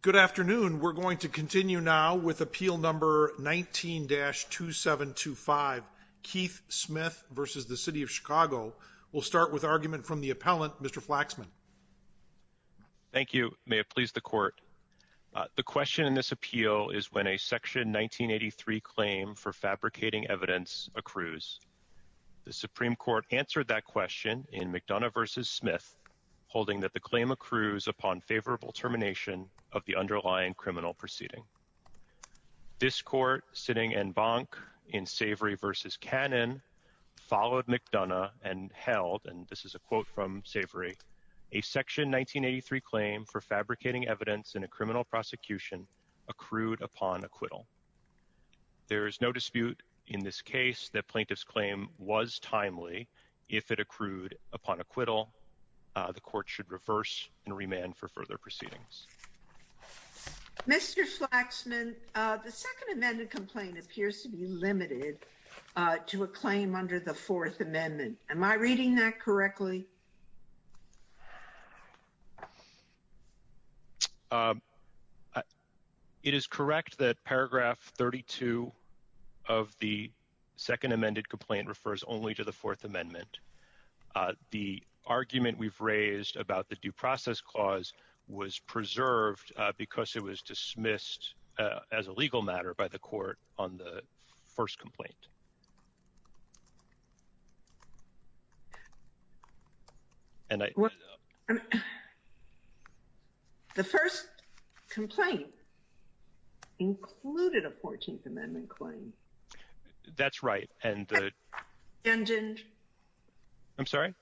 Good afternoon. We're going to continue now with appeal number 19-2725, Keith Smith v. City of Chicago. We'll start with argument from the appellant, Mr. Flaxman. Thank you. May it please the Court. The question in this appeal is when a Section 1983 claim for fabricating evidence accrues. The Supreme Court answered that question in McDonough v. Smith, holding that the claim accrues upon favorable termination of the underlying criminal proceeding. This Court, sitting en banc in Savory v. Cannon, followed McDonough and held, and this is a quote from Savory, a Section 1983 claim for fabricating evidence in a criminal prosecution accrued upon acquittal. There is no dispute in this case that plaintiff's claim was timely. If it accrued upon acquittal, the Court should reverse and remand for further proceedings. Mr. Flaxman, the Second Amendment complaint appears to be limited to a claim under the Fourth Amendment. Am I reading that correctly? It is correct that paragraph 32 of the Second Amendment complaint refers only to the Fourth Amendment. The argument we've raised about the due process clause was preserved because it was dismissed as a legal matter by the Court on the first complaint. The first complaint included a Fourteenth Amendment claim. That's right. Abandoned. I'm sorry?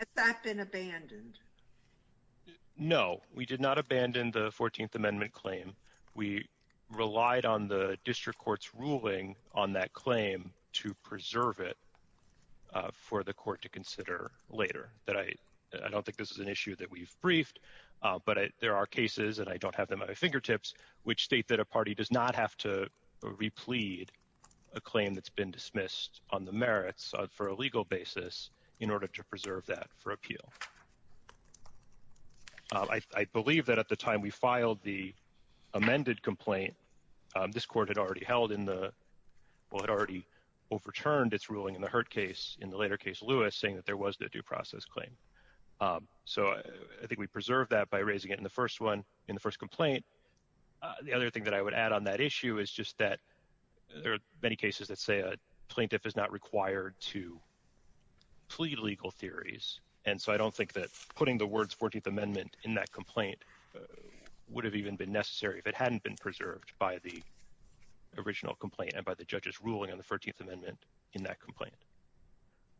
Has that been abandoned? No, we did not abandon the Fourteenth Amendment claim. We relied on the District Court's ruling on that claim to preserve it for the Court to consider later. I don't think this is an issue that we've briefed, but there are cases, and I don't have them at my fingertips, which state that a party does not have to replete a claim that's been dismissed on the merits for a legal basis in order to preserve that for appeal. I believe that at the time we filed the amended complaint, this Court had already overturned its ruling in the Hurd case, in the later case Lewis, saying that there was the due process claim. So I think we preserved that by raising it in the first complaint. The other thing that I would add on that issue is just that there are many cases that say a plaintiff is not required to plead legal theories. And so I don't think that putting the words Fourteenth Amendment in that complaint would have even been necessary if it hadn't been preserved by the original complaint and by the judge's ruling on the Fourteenth Amendment in that complaint.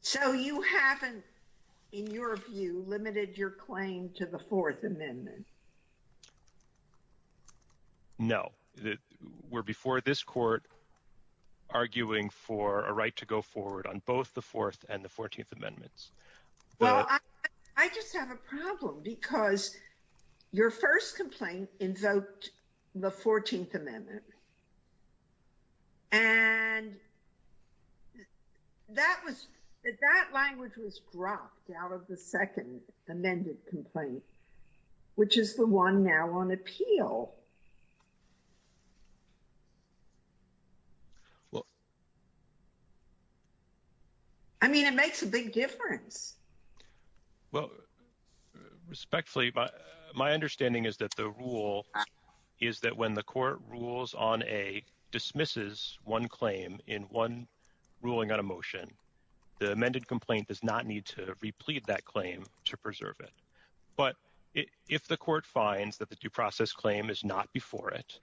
So you haven't, in your view, limited your claim to the Fourth Amendment? No. We're before this Court arguing for a right to go forward on both the Fourth and the Fourteenth Amendments. Well, I just have a problem because your first complaint invoked the Fourteenth Amendment. And that language was dropped out of the second amended complaint, which is the one now on appeal. Well, I mean, it makes a big difference. Well, respectfully, my understanding is that the rule is that when the court rules on a dismisses one claim in one ruling on a motion, the amended complaint does not need to replete that claim to preserve it. But if the court finds that the due process claim is not before it,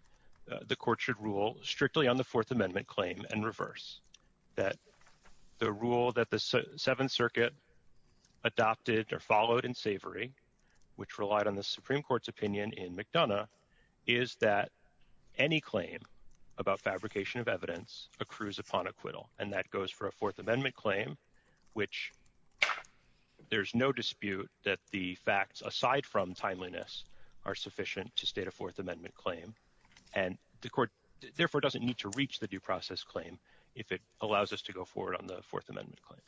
the court should rule strictly on the Fourth Amendment claim and reverse that the rule that the Seventh Circuit adopted or followed in Savory, which relied on the Supreme Court's opinion in McDonough, is that any claim about fabrication of evidence accrues upon acquittal. And that goes for a Fourth Amendment claim, which there's no dispute that the facts, aside from timeliness, are sufficient to state a Fourth Amendment claim. And the court, therefore, doesn't need to reach the due process claim if it allows us to go forward on the Fourth Amendment claim.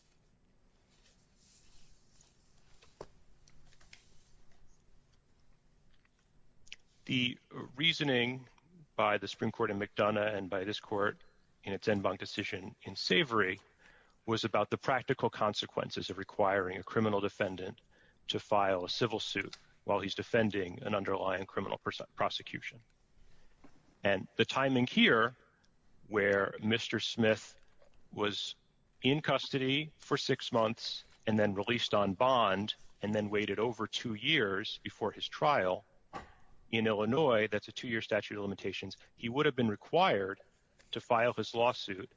The reasoning by the Supreme Court in McDonough and by this court in its en banc decision in Savory was about the practical consequences of requiring a criminal defendant to file a civil suit while he's defending an underlying criminal prosecution. And the timing here, where Mr. Smith was in custody for six months and then released on bond and then waited over two years before his trial in Illinois, that's a two-year statute of limitations, he would have been required to file his lawsuit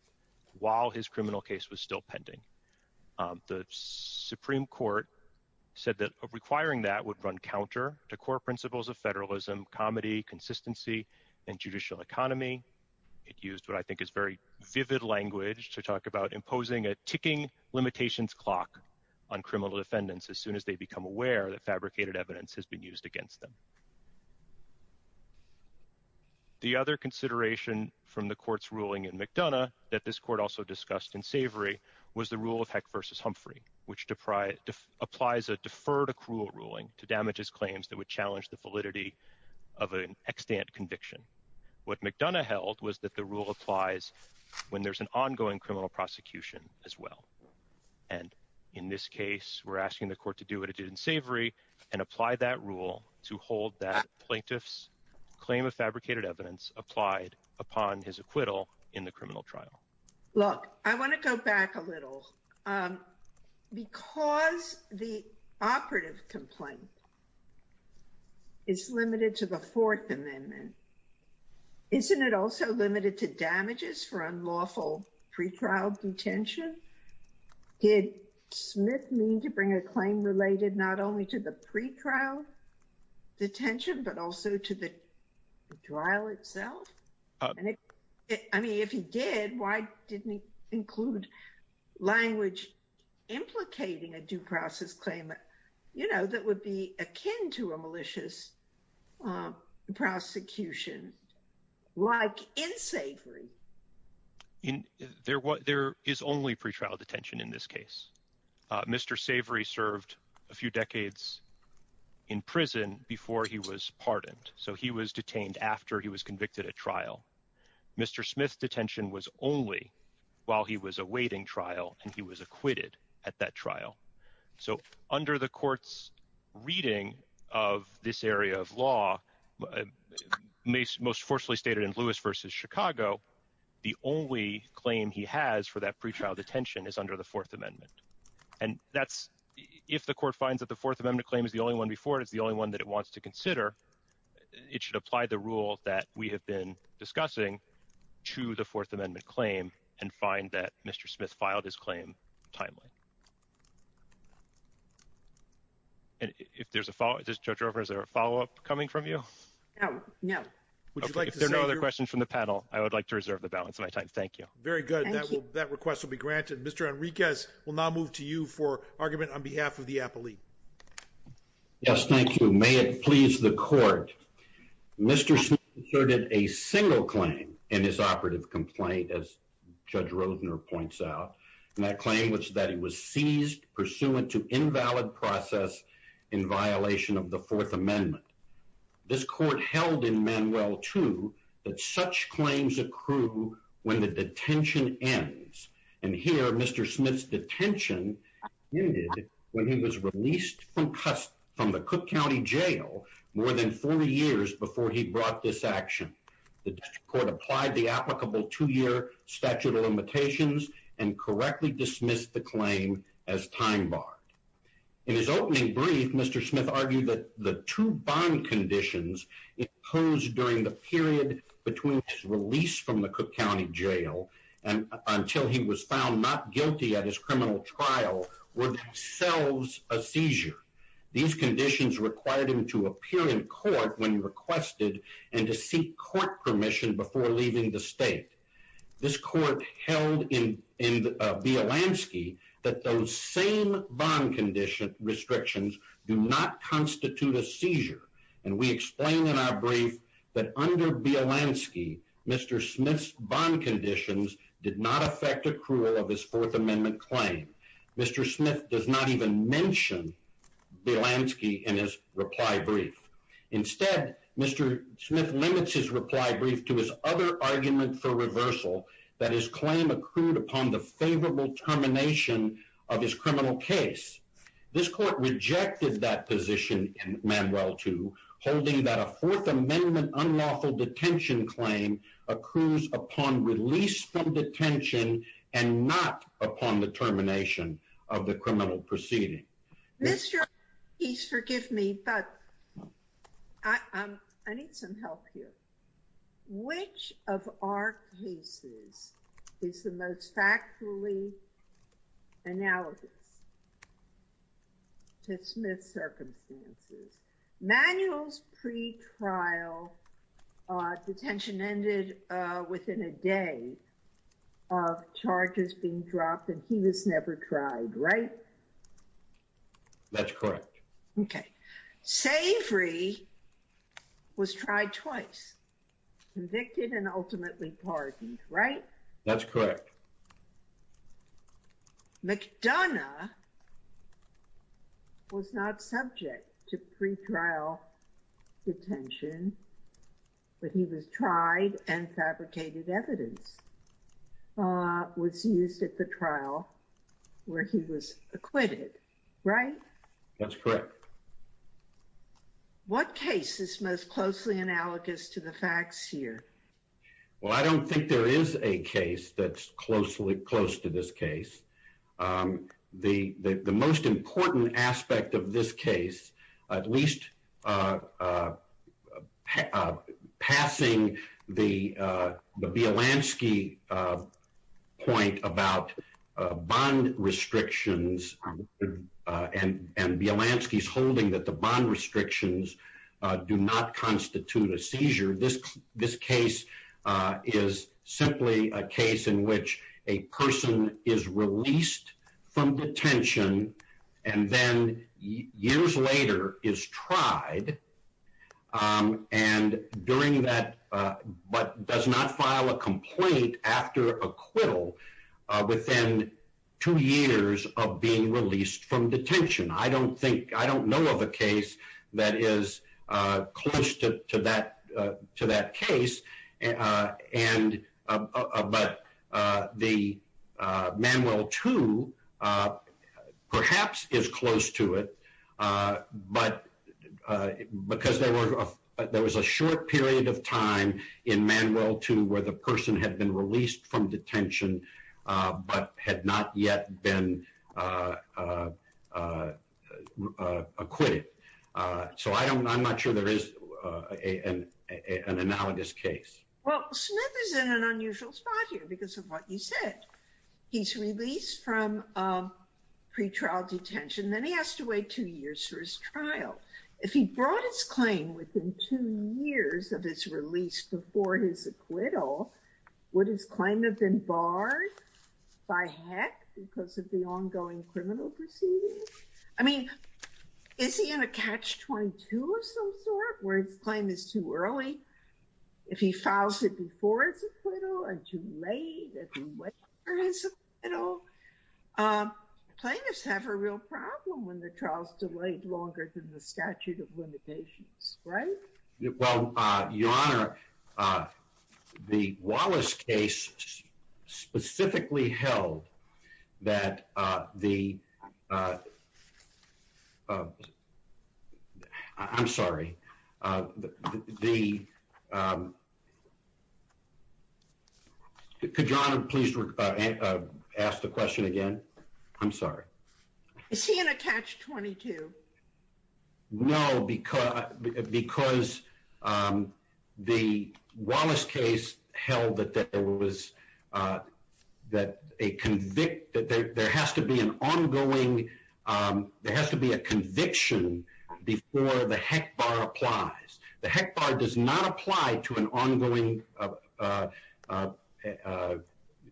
while his criminal case was still pending. The Supreme Court said that requiring that would run counter to core principles of federalism, comity, consistency, and judicial economy. It used what I think is very vivid language to talk about imposing a ticking limitations clock on criminal defendants as soon as they become aware that fabricated evidence has been used against them. The other consideration from the court's ruling in McDonough that this court also discussed in Savory was the rule of Heck v. Humphrey, which applies a deferred accrual ruling to damages claims that would challenge the validity of an extant conviction. What McDonough held was that the rule applies when there's an ongoing criminal prosecution as well. And in this case, we're asking the court to do what it did in Savory and apply that rule to hold that plaintiff's claim of fabricated evidence applied upon his acquittal in the criminal trial. Look, I want to go back a little. Because the operative complaint is limited to the Fourth Amendment, isn't it also limited to damages for unlawful pretrial detention? Did Smith mean to bring a claim related not only to the pretrial detention, but also to the trial itself? I mean, if he did, why didn't he include language implicating a due process claim that, you know, that would be akin to a malicious prosecution like in Savory? There is only pretrial detention in this case. Mr. Savory served a few decades in prison before he was pardoned. So he was detained after he was convicted at trial. Mr. Smith's detention was only while he was awaiting trial and he was acquitted at that trial. So under the court's reading of this area of law, most forcefully stated in Lewis versus Chicago, the only claim he has for that pretrial detention is under the Fourth Amendment. And that's if the court finds that the Fourth Amendment claim is the only one before it is the only one that it wants to consider. It should apply the rule that we have been discussing to the Fourth Amendment claim and find that Mr. Smith filed his claim timely. And if there's a follow up, is there a follow up coming from you? No, no. If there are no other questions from the panel, I would like to reserve the balance of my time. Thank you. Very good. That request will be granted. Mr. Enriquez, we'll now move to you for argument on behalf of the appellee. Yes, thank you. May it please the court. Mr. Smith asserted a single claim in his operative complaint, as Judge Rosener points out. And that claim was that he was seized pursuant to invalid process in violation of the Fourth Amendment. This court held in Manuel 2 that such claims accrue when the detention ends. And here, Mr. Smith's detention ended when he was released from the Cook County Jail more than 40 years before he brought this action. The district court applied the applicable two year statute of limitations and correctly dismissed the claim as time barred. In his opening brief, Mr. Smith argued that the two bond conditions imposed during the period between his release from the Cook County Jail and until he was found not guilty at his criminal trial were themselves a seizure. These conditions required him to appear in court when requested and to seek court permission before leaving the state. This court held in Bielanski that those same bond condition restrictions do not constitute a seizure. And we explain in our brief that under Bielanski, Mr. Smith's bond conditions did not affect accrual of his Fourth Amendment claim. Mr. Smith does not even mention Bielanski in his reply brief. Instead, Mr. Smith limits his reply brief to his other argument for reversal, that his claim accrued upon the favorable termination of his criminal case. This court rejected that position in Manuel 2, holding that a Fourth Amendment unlawful detention claim accrues upon release from detention and not upon the termination of the criminal proceeding. Mr. Ortiz, forgive me, but I need some help here. Which of our cases is the most factually analogous to Smith's circumstances? Manuel's pretrial detention ended within a day of charges being dropped and he was never tried, right? That's correct. Okay. Savory was tried twice, convicted and ultimately pardoned, right? That's correct. McDonough was not subject to pretrial detention, but he was tried and fabricated evidence, was used at the trial where he was acquitted, right? That's correct. What case is most closely analogous to the facts here? Well, I don't think there is a case that's close to this case. The most important aspect of this case, at least passing the Bielanski point about bond restrictions and Bielanski's holding that the bond restrictions do not constitute a seizure. This case is simply a case in which a person is released from detention and then years later is tried and during that, but does not file a complaint after acquittal within two years of being released from detention. I don't know of a case that is close to that case, but the Manuel 2 perhaps is close to it. But because there was a short period of time in Manuel 2 where the person had been released from detention, but had not yet been acquitted. So I'm not sure there is an analogous case. Well, Smith is in an unusual spot here because of what you said. He's released from pretrial detention, then he has to wait two years for his trial. If he brought his claim within two years of his release before his acquittal, would his claim have been barred by heck because of the ongoing criminal proceedings? I mean, is he in a catch 22 of some sort where his claim is too early? If he files it before it's acquittal and too late, plaintiffs have a real problem when the trial is delayed longer than the statute of limitations, right? Well, Your Honor, the Wallace case specifically held that the, I'm sorry, the, could Your Honor please ask the question again? I'm sorry. Is he in a catch 22? No, because the Wallace case held that there has to be an ongoing, there has to be a conviction before the heck bar applies. The heck bar does not apply to an ongoing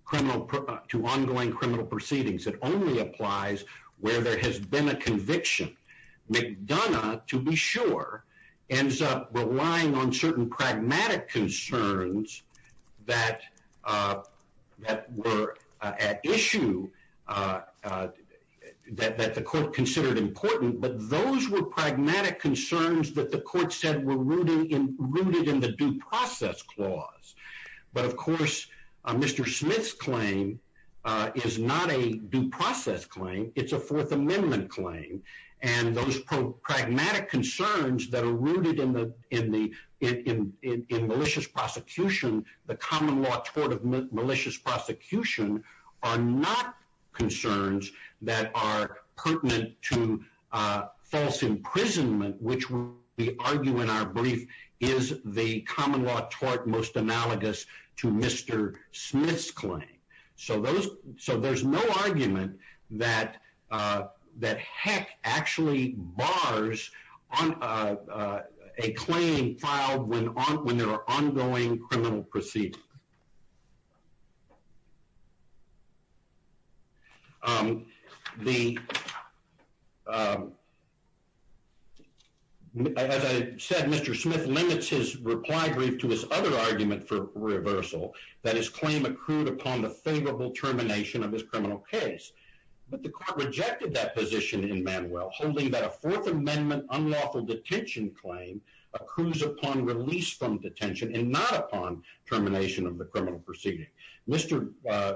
criminal to ongoing criminal proceedings. It only applies where there has been a conviction. McDonough, to be sure, ends up relying on certain pragmatic concerns that were at issue that the court considered important. But those were pragmatic concerns that the court said were rooted in the due process clause. But of course, Mr. Smith's claim is not a due process claim. It's a Fourth Amendment claim. And those pragmatic concerns that are rooted in malicious prosecution, the common law tort of malicious prosecution, are not concerns that are pertinent to false imprisonment, which we argue in our brief is the common law tort most analogous to Mr. Smith's claim. So those so there's no argument that that heck actually bars on a claim filed when on when there are ongoing criminal proceedings. As I said, Mr. Smith limits his reply brief to his other argument for reversal that his claim accrued upon the favorable termination of this criminal case. But the court rejected that position in Manuel holding that a Fourth Amendment unlawful detention claim accrues upon release from detention and not upon termination of the criminal proceeding. Mr.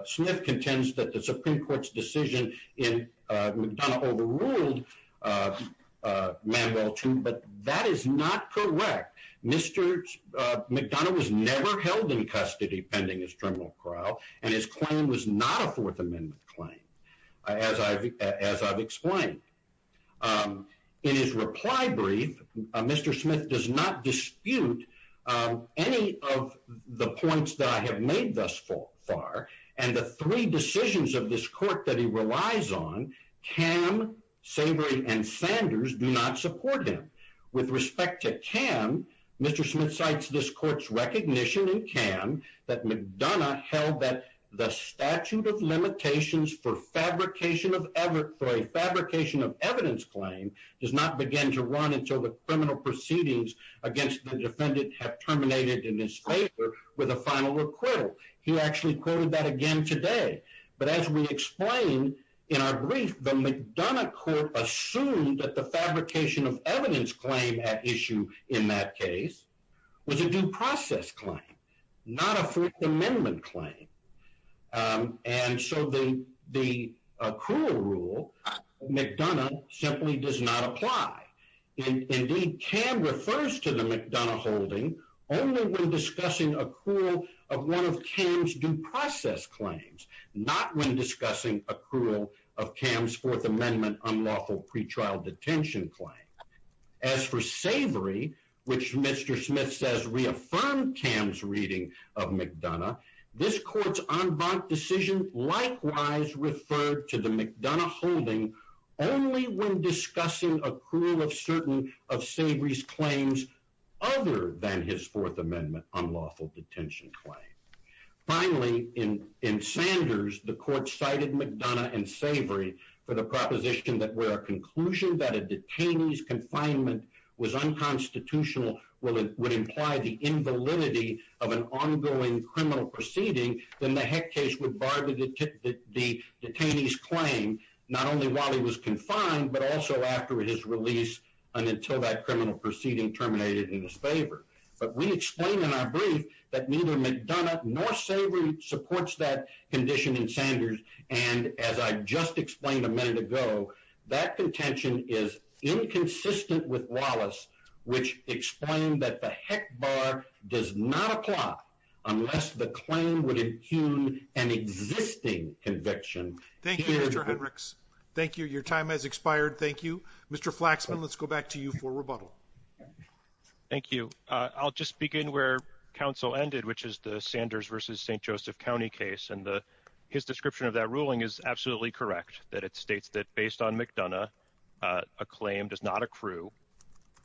Smith contends that the Supreme Court's decision in McDonough overruled Manuel too, but that is not correct. Mr. McDonough was never held in custody pending his criminal trial, and his claim was not a Fourth Amendment claim, as I've explained. In his reply brief, Mr. Smith does not dispute any of the points that I have made thus far. And the three decisions of this court that he relies on, Cam, Savory, and Sanders do not support him. With respect to Cam, Mr. Smith cites this court's recognition in Cam that McDonough held that the statute of limitations for fabrication of ever for a fabrication of evidence claim does not begin to run until the criminal proceedings against the defendant have terminated in his favor with a final acquittal. He actually quoted that again today. But as we explained in our brief, the McDonough court assumed that the fabrication of evidence claim at issue in that case was a due process claim, not a Fourth Amendment claim. And so the accrual rule, McDonough simply does not apply. Indeed, Cam refers to the McDonough holding only when discussing accrual of one of Cam's due process claims, not when discussing accrual of Cam's Fourth Amendment unlawful pretrial detention claim. As for Savory, which Mr. Smith says reaffirmed Cam's reading of McDonough, this court's en banc decision likewise referred to the McDonough holding only when discussing accrual of certain of Savory's claims other than his Fourth Amendment unlawful detention claim. Finally, in Sanders, the court cited McDonough and Savory for the proposition that where a conclusion that a detainee's confinement was unconstitutional would imply the invalidity of an ongoing criminal proceeding, then the Heck case would bar the detainee's claim not only while he was confined, but also after his release and until that criminal proceeding terminated in his favor. But we explained in our brief that neither McDonough nor Savory supports that condition in Sanders. And as I just explained a minute ago, that contention is inconsistent with Wallace, which explained that the Heck bar does not apply unless the claim would impugn an existing conviction. Thank you, Mr. Hendricks. Thank you. Your time has expired. Thank you, Mr. Flaxman. Let's go back to you for rebuttal. Thank you. I'll just begin where counsel ended, which is the Sanders versus St. Joseph County case. And his description of that ruling is absolutely correct that it states that based on McDonough, a claim does not accrue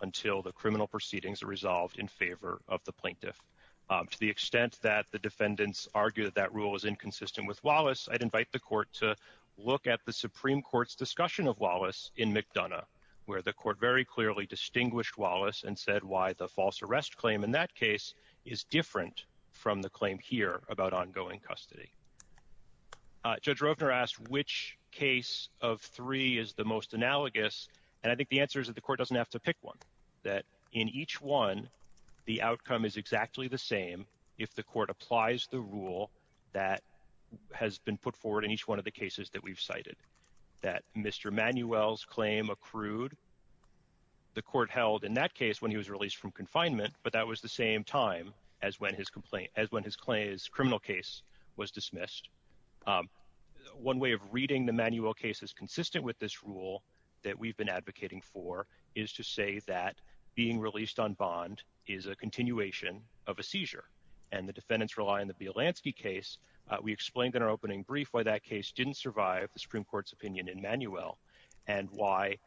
until the criminal proceedings are resolved in favor of the plaintiff. To the extent that the defendants argue that that rule is inconsistent with Wallace, I'd invite the court to look at the Supreme Court's discussion of Wallace in McDonough, where the court very clearly distinguished Wallace and said why the false arrest claim in that case is different from the claim here about ongoing custody. Judge Rovner asked which case of three is the most analogous. And I think the answer is that the court doesn't have to pick one that in each one, the outcome is exactly the same if the court applies the rule that has been put forward in each one of the cases that we've cited that Mr. Manuel's claim accrued. The court held in that case when he was released from confinement, but that was the same time as when his complaint as when his claims criminal case was dismissed. One way of reading the manual case is consistent with this rule that we've been advocating for is to say that being released on bond is a continuation of a seizure and the defendants rely on the Bielanski case. We explained in our opening brief why that case didn't survive the Supreme Court's opinion in Manuel and why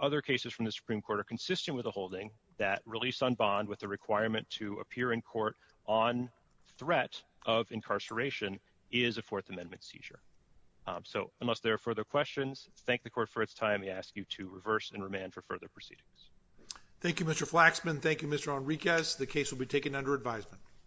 other cases from the Supreme Court are consistent with the holding that release on bond with the requirement to appear in court on threat of incarceration is a Fourth Amendment seizure. So unless there are further questions, thank the court for its time. We ask you to reverse and remand for further proceedings. Thank you, Mr. Flaxman. Thank you, Mr. Enriquez. The case will be taken under advisement.